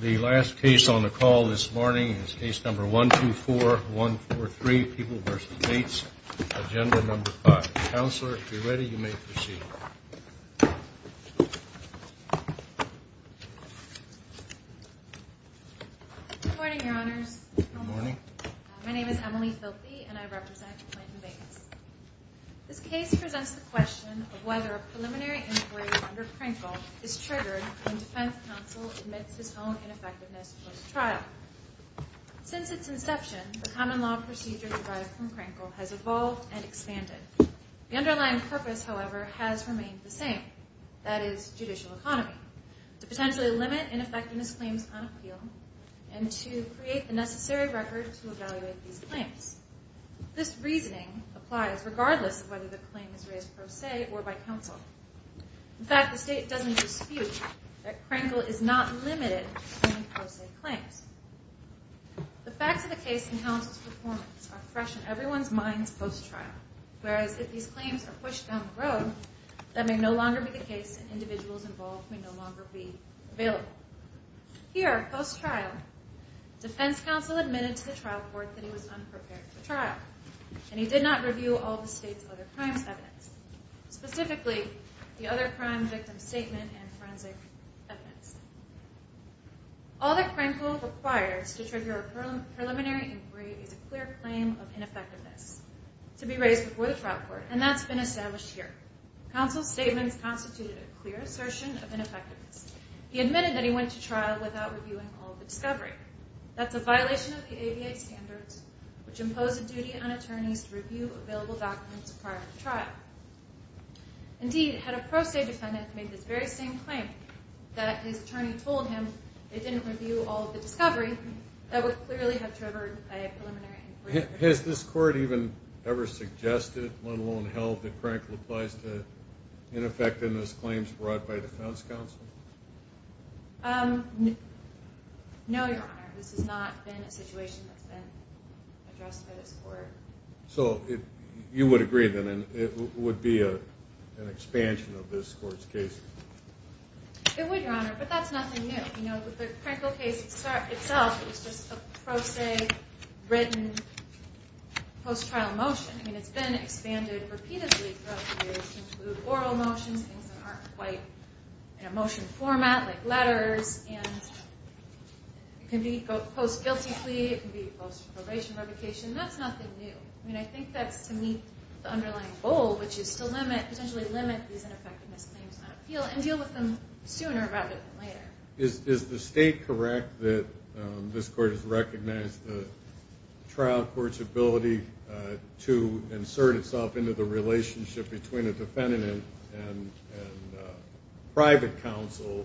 The last case on the call this morning is case number 124143, People v. Bates, Agenda No. 5. Counselor, if you're ready, you may proceed. Good morning, Your Honors. Good morning. My name is Emily Filpe, and I represent Clinton Bates. This case presents the question of whether a preliminary inquiry under Krinkle is triggered when defense counsel admits his own ineffectiveness post-trial. Since its inception, the common law procedure derived from Krinkle has evolved and expanded. The underlying purpose, however, has remained the same, that is, judicial economy, to potentially limit ineffectiveness claims on appeal and to create the necessary record to evaluate these claims. This reasoning applies regardless of whether the claim is raised pro se or by counsel. In fact, the state doesn't dispute that Krinkle is not limited to pro se claims. The facts of the case and counsel's performance are fresh in everyone's minds post-trial, whereas if these claims are pushed down the road, that may no longer be the case and individuals involved may no longer be available. Here, post-trial, defense counsel admitted to the trial court that he was unprepared for trial, and he did not review all the state's other crimes' evidence, specifically the other crime victim's statement and forensic evidence. All that Krinkle requires to trigger a preliminary inquiry is a clear claim of ineffectiveness to be raised before the trial court, and that's been established here. Counsel's statements constituted a clear assertion of ineffectiveness. He admitted that he went to trial without reviewing all of the discovery. That's a violation of the ABA standards, which impose a duty on a trial. Indeed, had a pro se defendant made this very same claim that his attorney told him they didn't review all of the discovery, that would clearly have triggered a preliminary inquiry. Has this court even ever suggested, let alone held, that Krinkle applies to ineffectiveness claims brought by defense counsel? No, Your Honor. This has not been a situation that's been addressed by this court. So you would agree, then, that it would be an expansion of this court's case? It would, Your Honor, but that's nothing new. You know, the Krinkle case itself is just a pro se, written, post-trial motion. I mean, it's been expanded repeatedly throughout the years to include oral motions, things that aren't quite in a motion format like letters, and it can be a post-guilty plea, it can be a post-probation revocation. That's nothing new. I mean, I think that's to meet the underlying goal, which is to potentially limit these ineffectiveness claims on appeal and deal with them sooner rather than later. Is the state correct that this court has recognized the trial court's ability to insert itself into the relationship between a defendant and private counsel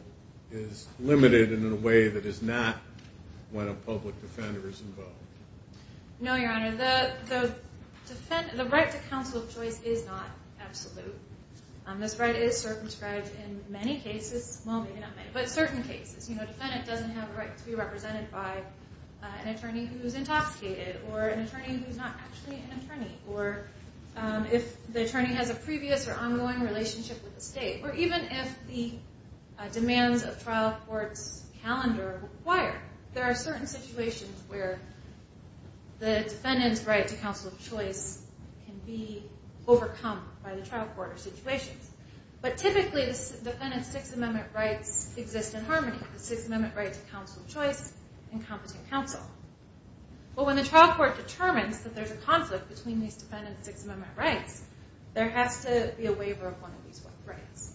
is limited in a way that is not when a public defender is involved? No, Your Honor. The right to counsel of choice is not absolute. This right is circumscribed in many cases, well, maybe not many, but certain cases. You know, a defendant doesn't have a right to be represented by an attorney who is not actually an attorney, or if the attorney has a previous or ongoing relationship with the state, or even if the demands of trial court's calendar require. There are certain situations where the defendant's right to counsel of choice can be overcome by the trial court or situations. But typically, the defendant's Sixth Amendment rights exist in harmony. The Sixth Amendment right to counsel of choice and competent counsel. But when the trial court determines that there's a conflict between these defendants' Sixth Amendment rights, there has to be a waiver of one of these rights.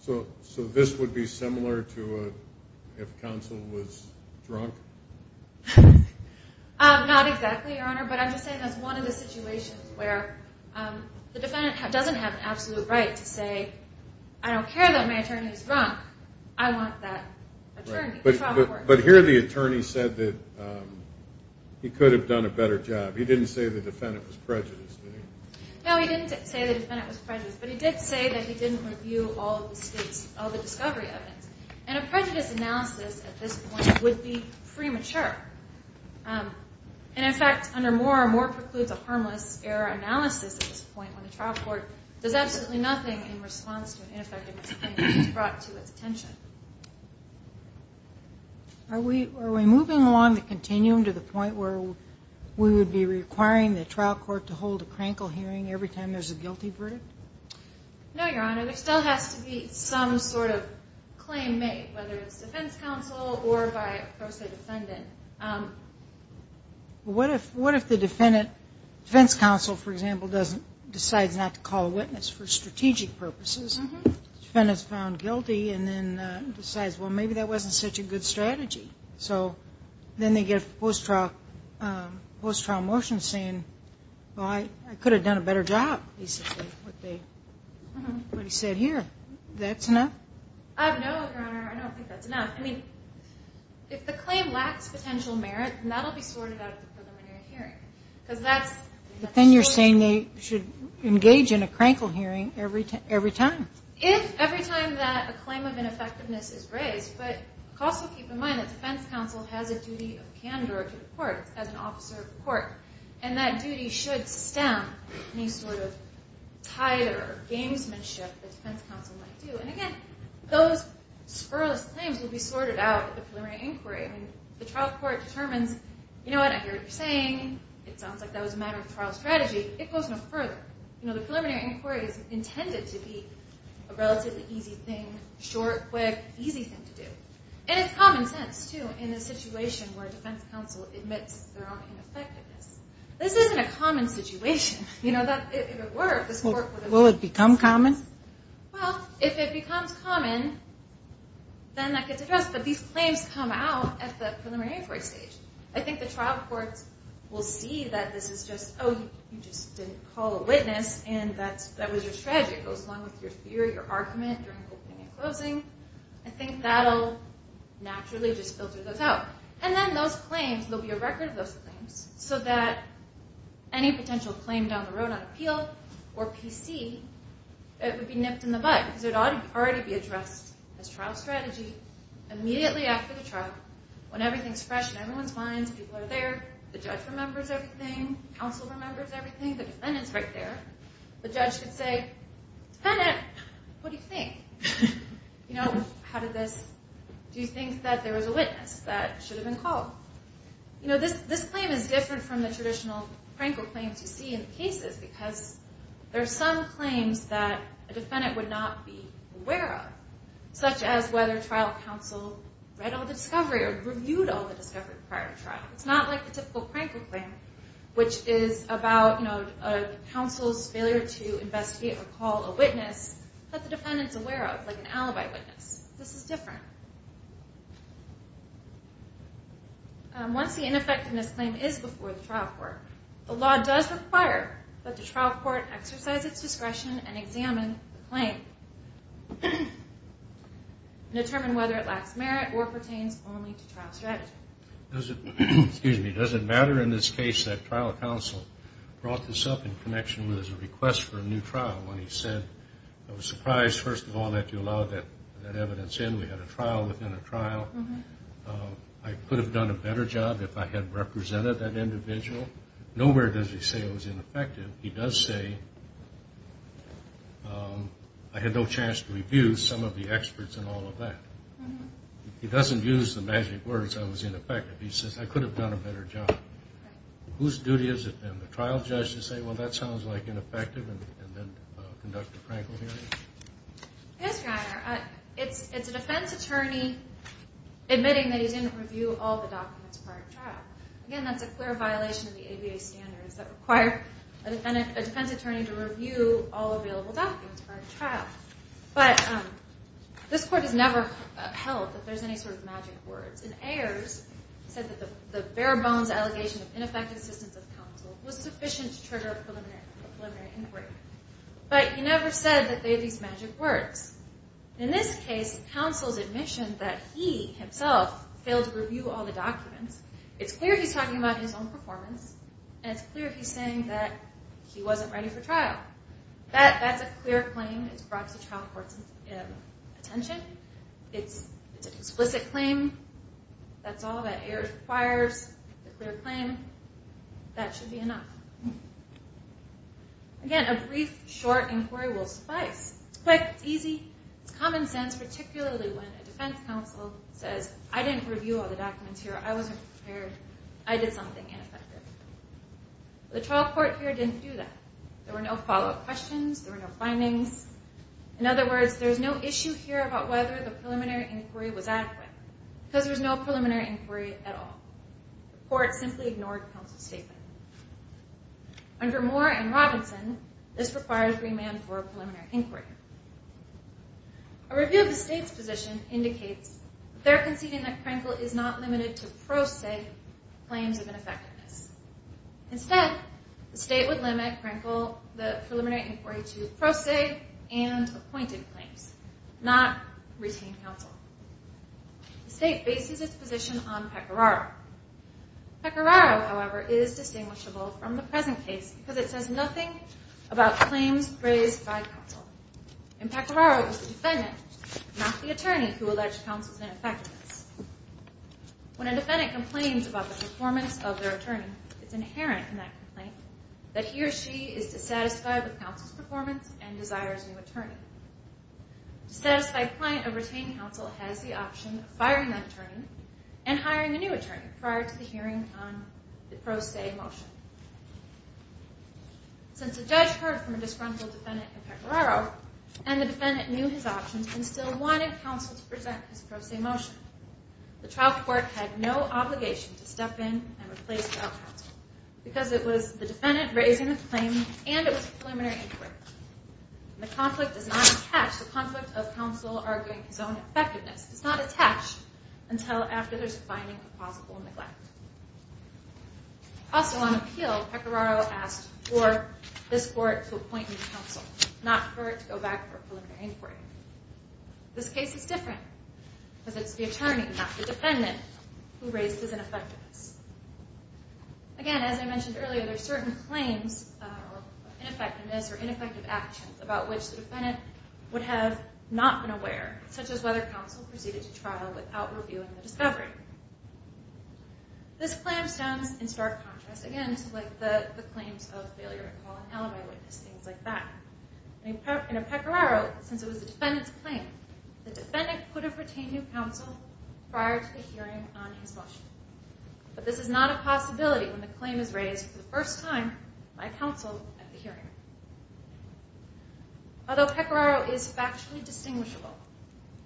So this would be similar to if counsel was drunk? Not exactly, Your Honor, but I'm just saying that's one of the situations where the defendant doesn't have an absolute right to say, I don't care that my attorney is drunk, I want that attorney. But here the attorney said that he could have done a better job. He didn't say the defendant was prejudiced. No, he didn't say the defendant was prejudiced, but he did say that he didn't review all of the discovery evidence. And a prejudiced analysis at this point would be premature. And in fact, under Moore, Moore precludes a harmless error analysis at this point when the trial court does absolutely nothing in response to an intention. Are we moving along the continuum to the point where we would be requiring the trial court to hold a crankle hearing every time there's a guilty verdict? No, Your Honor. There still has to be some sort of claim made, whether it's defense counsel or by a pro se defendant. What if the defense counsel, for example, decides not to call a witness for strategic purposes, the defendant is found guilty, and then decides, well, maybe that wasn't such a good strategy. So then they get a post-trial motion saying, well, I could have done a better job, basically, what he said here. That's enough? No, Your Honor, I don't think that's enough. I mean, if the claim lacks potential merit, that will be sorted out at the preliminary hearing. But then you're saying they should engage in a crankle hearing every time. If every time that a claim of ineffectiveness is raised, but also keep in mind that defense counsel has a duty of candor to the court, as an officer of the court, and that duty should stem any sort of titer or gamesmanship that defense counsel might do. And again, those spurless claims will be sorted out at the preliminary inquiry. I mean, the trial strategy, it goes no further. You know, the preliminary inquiry is intended to be a relatively easy thing, short, quick, easy thing to do. And it's common sense, too, in a situation where a defense counsel admits their own ineffectiveness. This isn't a common situation. You know, if it were, this court would have... Will it become common? Well, if it becomes common, then that gets addressed. But these claims come out at the preliminary inquiry, and you see that this is just, oh, you just didn't call a witness, and that was your strategy. It goes along with your theory, your argument during opening and closing. I think that'll naturally just filter those out. And then those claims, there'll be a record of those claims, so that any potential claim down the road on appeal or PC, it would be nipped in the bud, because it ought to already be addressed as trial strategy immediately after the trial, when everything's fresh in The judge remembers everything. Counsel remembers everything. The defendant's right there. The judge could say, defendant, what do you think? You know, how did this... Do you think that there was a witness that should have been called? You know, this claim is different from the traditional prank or claims you see in the cases, because there are some claims that a defendant would not be aware of, such as whether trial counsel read all the discovery or reviewed all the discovery prior to trial. It's not like the typical prank or claim, which is about, you know, a counsel's failure to investigate or call a witness that the defendant's aware of, like an alibi witness. This is different. Once the ineffectiveness claim is before the trial court, the law does require that the trial court exercise its discretion and examine the claim and determine whether it lacks merit or pertains only to trial strategy. Does it matter in this case that trial counsel brought this up in connection with his request for a new trial, when he said, I was surprised, first of all, that you allowed that evidence in. We had a trial within a trial. I could have done a better job if I had represented that individual. Nowhere does he say it was ineffective. He does say, I had no chance to review some of the experts and all of that. He doesn't use the magic words, I was ineffective. He says, I could have done a better job. Whose duty has it been, the trial judge, to say, well, that sounds like ineffective, and then conduct a prank or hearing? Yes, Your Honor. It's a defense attorney admitting that he didn't review all the documents prior to trial. Again, that's a clear violation of the ABA standards that require a defense attorney to review all available documents prior to trial. But this court has never held that there's any sort of magic words. And Ayers said that the bare-bones allegation of ineffective assistance of counsel was sufficient to trigger a preliminary inquiry. But he never said that they had these magic words. In this case, counsel's admission that he, himself, failed to review all the documents, it's clear he's talking about his own performance, and it's clear he's saying that he wasn't ready for trial. That's a clear claim. It's brought to trial court's attention. It's an explicit claim. That's all that Ayers requires, a clear claim. That should be enough. Again, a brief, short inquiry will suffice. It's quick, it's easy, it's common sense, particularly when a defense counsel says, I didn't review all the documents here, I wasn't prepared, I did something ineffective. The trial court here didn't do that. There were no follow-up questions, there were no findings. In other words, there's no issue here about whether the preliminary inquiry was adequate, because there's no preliminary inquiry at all. The court simply ignored counsel's statement. Under Moore and Robinson, this requires remand for a preliminary inquiry. A review of the state's position indicates they're conceding that Prenkle is not limited to pro se claims of ineffectiveness. Instead, the state would limit Prenkle, the preliminary inquiry, to pro se and appointed claims, not retained counsel. The state bases its position on Pecoraro. Pecoraro, however, is distinguishable from the present case because it says nothing about claims raised by counsel. In Pecoraro, it was the defendant, not the attorney, who alleged counsel's ineffectiveness. When a defendant complains about the performance of their attorney, it's inherent in that complaint that he or she is dissatisfied with counsel's performance and desires a new attorney. A dissatisfied client of retained counsel has the option of firing that attorney and Since the judge heard from a disgruntled defendant in Pecoraro, and the defendant knew his options and still wanted counsel to present his pro se motion, the trial court had no obligation to step in and replace without counsel, because it was the defendant raising the claim and it was a preliminary inquiry. The conflict does not attach, the conflict of counsel arguing his own effectiveness, does not attach until after there's a finding of plausible neglect. Also on appeal, Pecoraro asked for this court to appoint new counsel, not for it to go back for a preliminary inquiry. This case is different, because it's the attorney, not the defendant, who raised his ineffectiveness. Again, as I mentioned earlier, there are certain claims of ineffectiveness or ineffective actions about which the defendant would have not been aware, such as whether counsel proceeded to trial without reviewing the discovery. This clamps down in stark contrast, again, to the claims of failure to call an alibi witness, things like that. In Pecoraro, since it was the defendant's claim, the defendant could have retained new counsel prior to the hearing on his motion. But this is not a possibility when the claim is raised for the first time by counsel at the hearing. Although Pecoraro is factually distinguishable,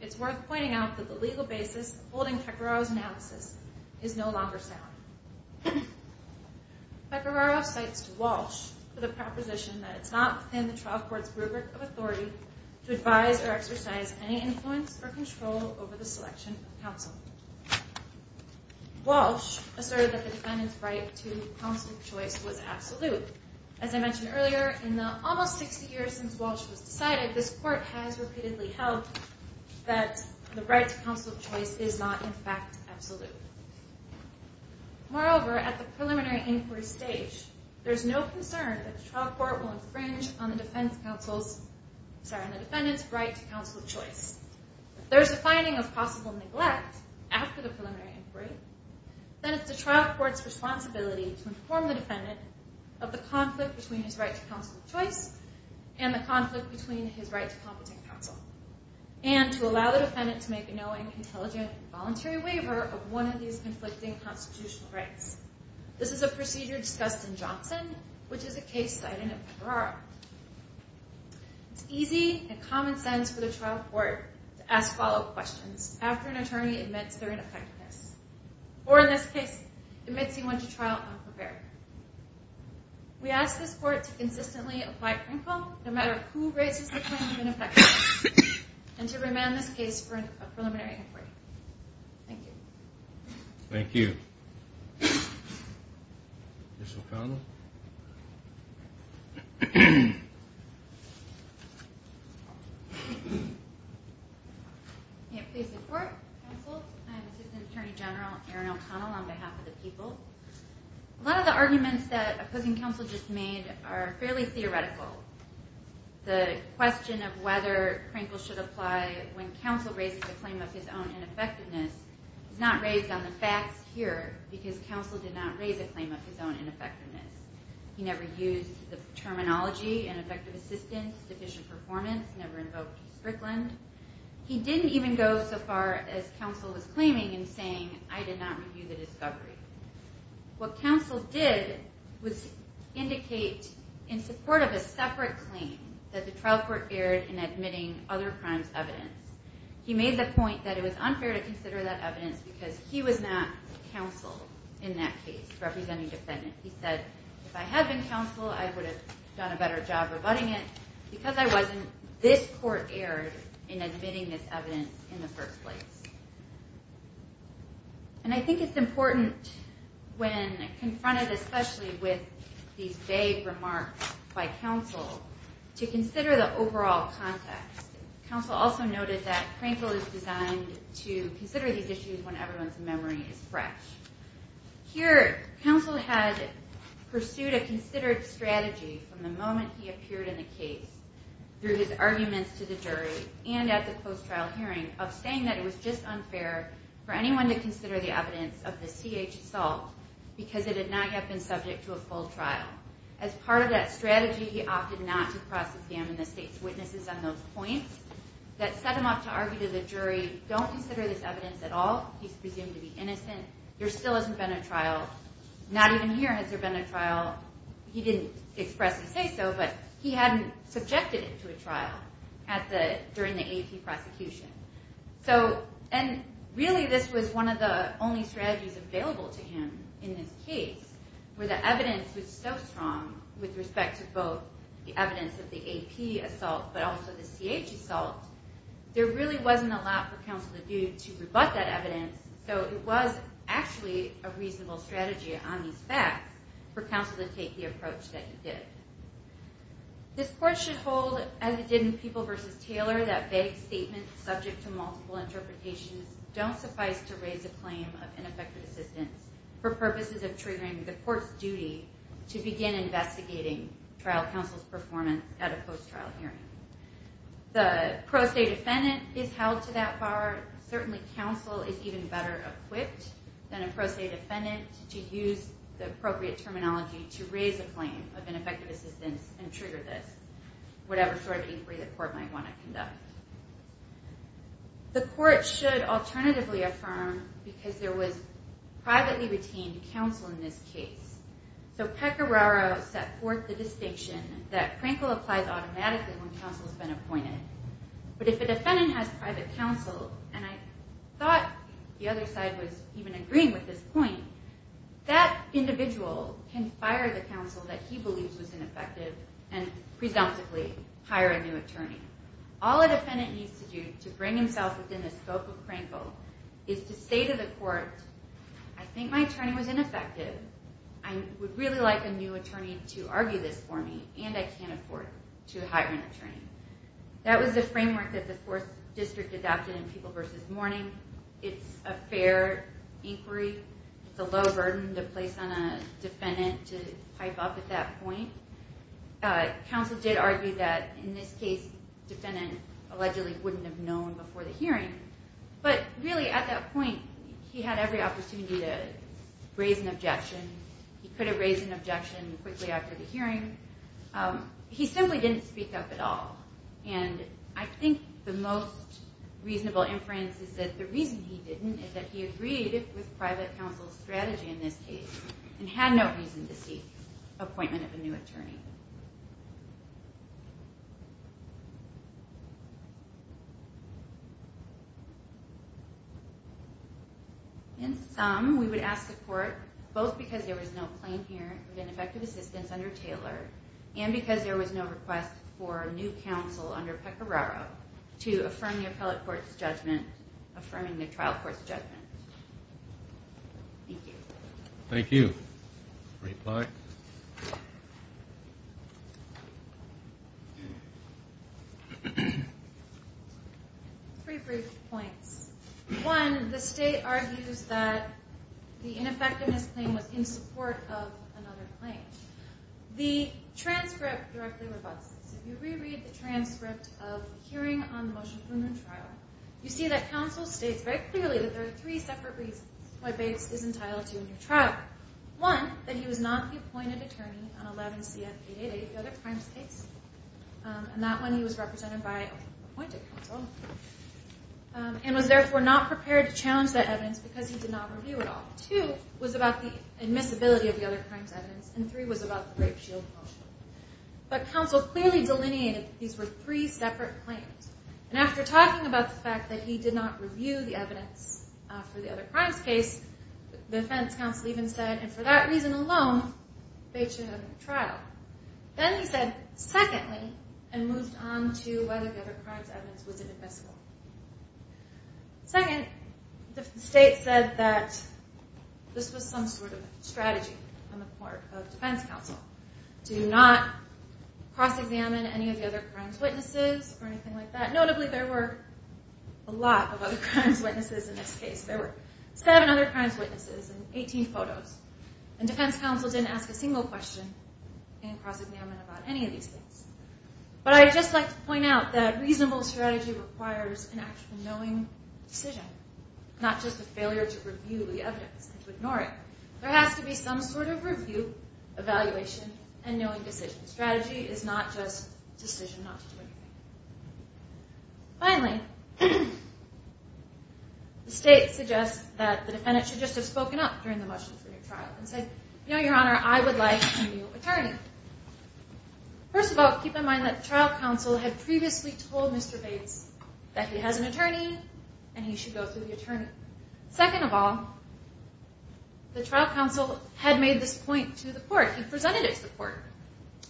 it's worth pointing out that the legal basis holding Pecoraro's analysis is no longer sound. Pecoraro cites Walsh with a proposition that it's not within the trial court's rubric of authority to advise or exercise any influence or control over the selection of counsel. Walsh asserted that the defendant's right to counsel of choice was absolute. As I mentioned earlier, in the almost 60 years since Walsh was decided, this court has repeatedly held that the right to counsel of choice is not, in fact, absolute. Moreover, at the preliminary inquiry stage, there's no concern that the trial court will infringe on the defendant's right to counsel of choice. If there's a finding of possible neglect after the preliminary inquiry, then it's the trial court's responsibility to inform the defendant of the conflict between his right to counsel of choice and the conflict between his right to competent counsel, and to allow the defendant to make a knowing, intelligent, and voluntary waiver of one of these conflicting constitutional rights. This is a procedure discussed in Johnson, which is a case cited in Pecoraro. It's easy and common sense for the trial court to ask follow-up questions after an attorney admits their ineffectiveness, or in this case, admits he went to trial unprepared. We ask this court to consistently apply principle, no matter who raises the claim of ineffectiveness, and to remand this case for a preliminary inquiry. Thank you. Thank you. Ms. O'Connell? May it please the court, counsel, I am Assistant Attorney General Erin O'Connell on behalf of the people. A lot of the arguments that opposing counsel just made are fairly theoretical. The question of whether principle should apply when counsel raises a claim of his own ineffectiveness is not raised on the facts here, because counsel did not raise a claim of his own ineffectiveness. He never used the terminology, ineffective assistance, deficient performance, never invoked Strickland. He didn't even go so far as counsel was claiming in saying, I did not review the discovery. What counsel did was indicate, in support of a separate claim, that the trial court erred in admitting other crimes' evidence. He made the point that it was unfair to consider that evidence, because he was not counsel in that case, representing defendant. He said, if I had been counsel, I would have done a better job rebutting it. Because I wasn't, this court erred in admitting this evidence in the first place. And I think it's important, when confronted especially with these vague remarks by counsel, to consider the overall context. Counsel also noted that Crankle is designed to consider these issues when everyone's memory is fresh. Here, counsel had pursued a considered strategy from the moment he appeared in the case, through his arguments to the jury, and at the post-trial hearing, of saying that it was just unfair for anyone to consider the evidence of the CH assault, because it had not yet been subject to a full trial. As part of that strategy, he opted not to process him and the state's witnesses on those points. That set him up to argue to the jury, don't consider this evidence at all. He's presumed to be innocent. There still hasn't been a trial. Not even here has there been a trial. He didn't expressly say so, but he hadn't subjected it to a trial during the AP prosecution. And really, this was one of the only strategies available to him in this case, where the evidence was so strong, with respect to both the evidence of the AP assault, but also the CH assault, there really wasn't a lot for counsel to do to rebut that evidence, so it was actually a reasonable strategy on these facts for counsel to take the approach that he did. This court should hold, as it did in People v. Taylor, that vague statements subject to multiple interpretations don't suffice to raise the claim of ineffective assistance for purposes of triggering the court's duty to begin investigating trial counsel's performance at a post-trial hearing. The pro se defendant is held to that bar. Certainly, counsel is even better equipped than a pro se defendant to use the appropriate terminology to raise a claim of ineffective assistance and trigger this, whatever sort of inquiry the court might want to conduct. The court should alternatively affirm, because there was privately retained counsel in this case, so Pecoraro set forth the distinction that Prankle applies automatically when counsel has been appointed, but if a defendant has private counsel, and I thought the other side was even agreeing with this point, that individual can fire the counsel that he believes was ineffective. What the defendant needs to do to bring himself within the scope of Prankle is to say to the court, I think my attorney was ineffective. I would really like a new attorney to argue this for me, and I can't afford to hire an attorney. That was the framework that the Fourth District adopted in People v. Mourning. It's a fair inquiry. It's a low burden to place on a defendant to pipe up at that point. Counsel did argue that in this case, defendant allegedly wouldn't have known before the hearing, but really at that point, he had every opportunity to raise an objection. He could have raised an objection quickly after the hearing. He simply didn't speak up at all, and I think the most reasonable inference is that the reason he didn't is that he agreed with private counsel's strategy in this case and had no reason to make the appointment of a new attorney. In sum, we would ask the court, both because there was no claim here with ineffective assistance under Taylor, and because there was no request for new counsel under Pecoraro to affirm the appellate court's judgment, affirming the trial court's judgment. Thank you. Thank you. Reply. Three brief points. One, the State argues that the ineffectiveness claim was in support of another claim. The transcript directly rebuts this. If you reread the transcript of the hearing on the motion for a new trial, you see that counsel states very clearly that there are three separate reasons why Bates is entitled to a new trial. One, that he was not the appointed attorney on 11 CF 888, the other crimes case, and that one he was represented by an appointed counsel, and was therefore not prepared to challenge that evidence because he did not review it all. Two was about the admissibility of the other crimes evidence, and three was about the rape shield motion. But counsel clearly delineated that these were three separate claims. And after talking about the fact that he did not review the evidence for the other crimes case, the defense counsel even said, and for that reason alone, Bates should have a new trial. Then he said, secondly, and moved on to whether the other crimes evidence was admissible. Second, the State said that this was some sort of strategy on the part of defense counsel to not cross-examine any of the other crimes witnesses or anything like that. Notably, there were a lot of other crimes witnesses in this case. There were seven other crimes witnesses and 18 photos. And defense counsel didn't ask a single question in cross-examining about any of these things. But I'd just like to point out that reasonable strategy requires an actual knowing decision, not just a failure to review the evidence and to ignore it. There has to be some sort of review, evaluation, and knowing decision. Strategy is not just decision not to do anything. Finally, the State suggests that the defendant should just have spoken up during the much-needed trial and said, you know, Your Honor, I would like a new attorney. First of all, keep in mind that trial counsel had previously told Mr. Bates that he has an attorney and he should go through the attorney. Second of all, the trial counsel had made this point to the court. He presented it to the court.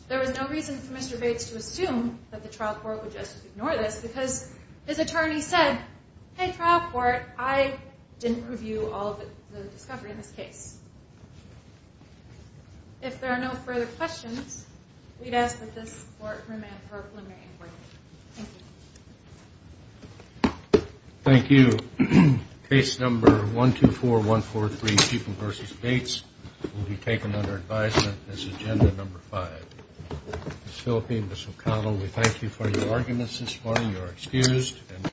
There was no reason for Mr. Bates to assume that the trial court would just ignore this because his attorney said, hey, trial court, I didn't review all of the discovery in this case. If there are no further questions, we'd ask that this court remand for a preliminary inquiry. Thank you. Thank you. Case number 124143, Sheepman v. Bates, will be taken under advisement as agenda number five. Ms. Phillipi and Ms. O'Connell, we thank you for your arguments this morning. You are excused.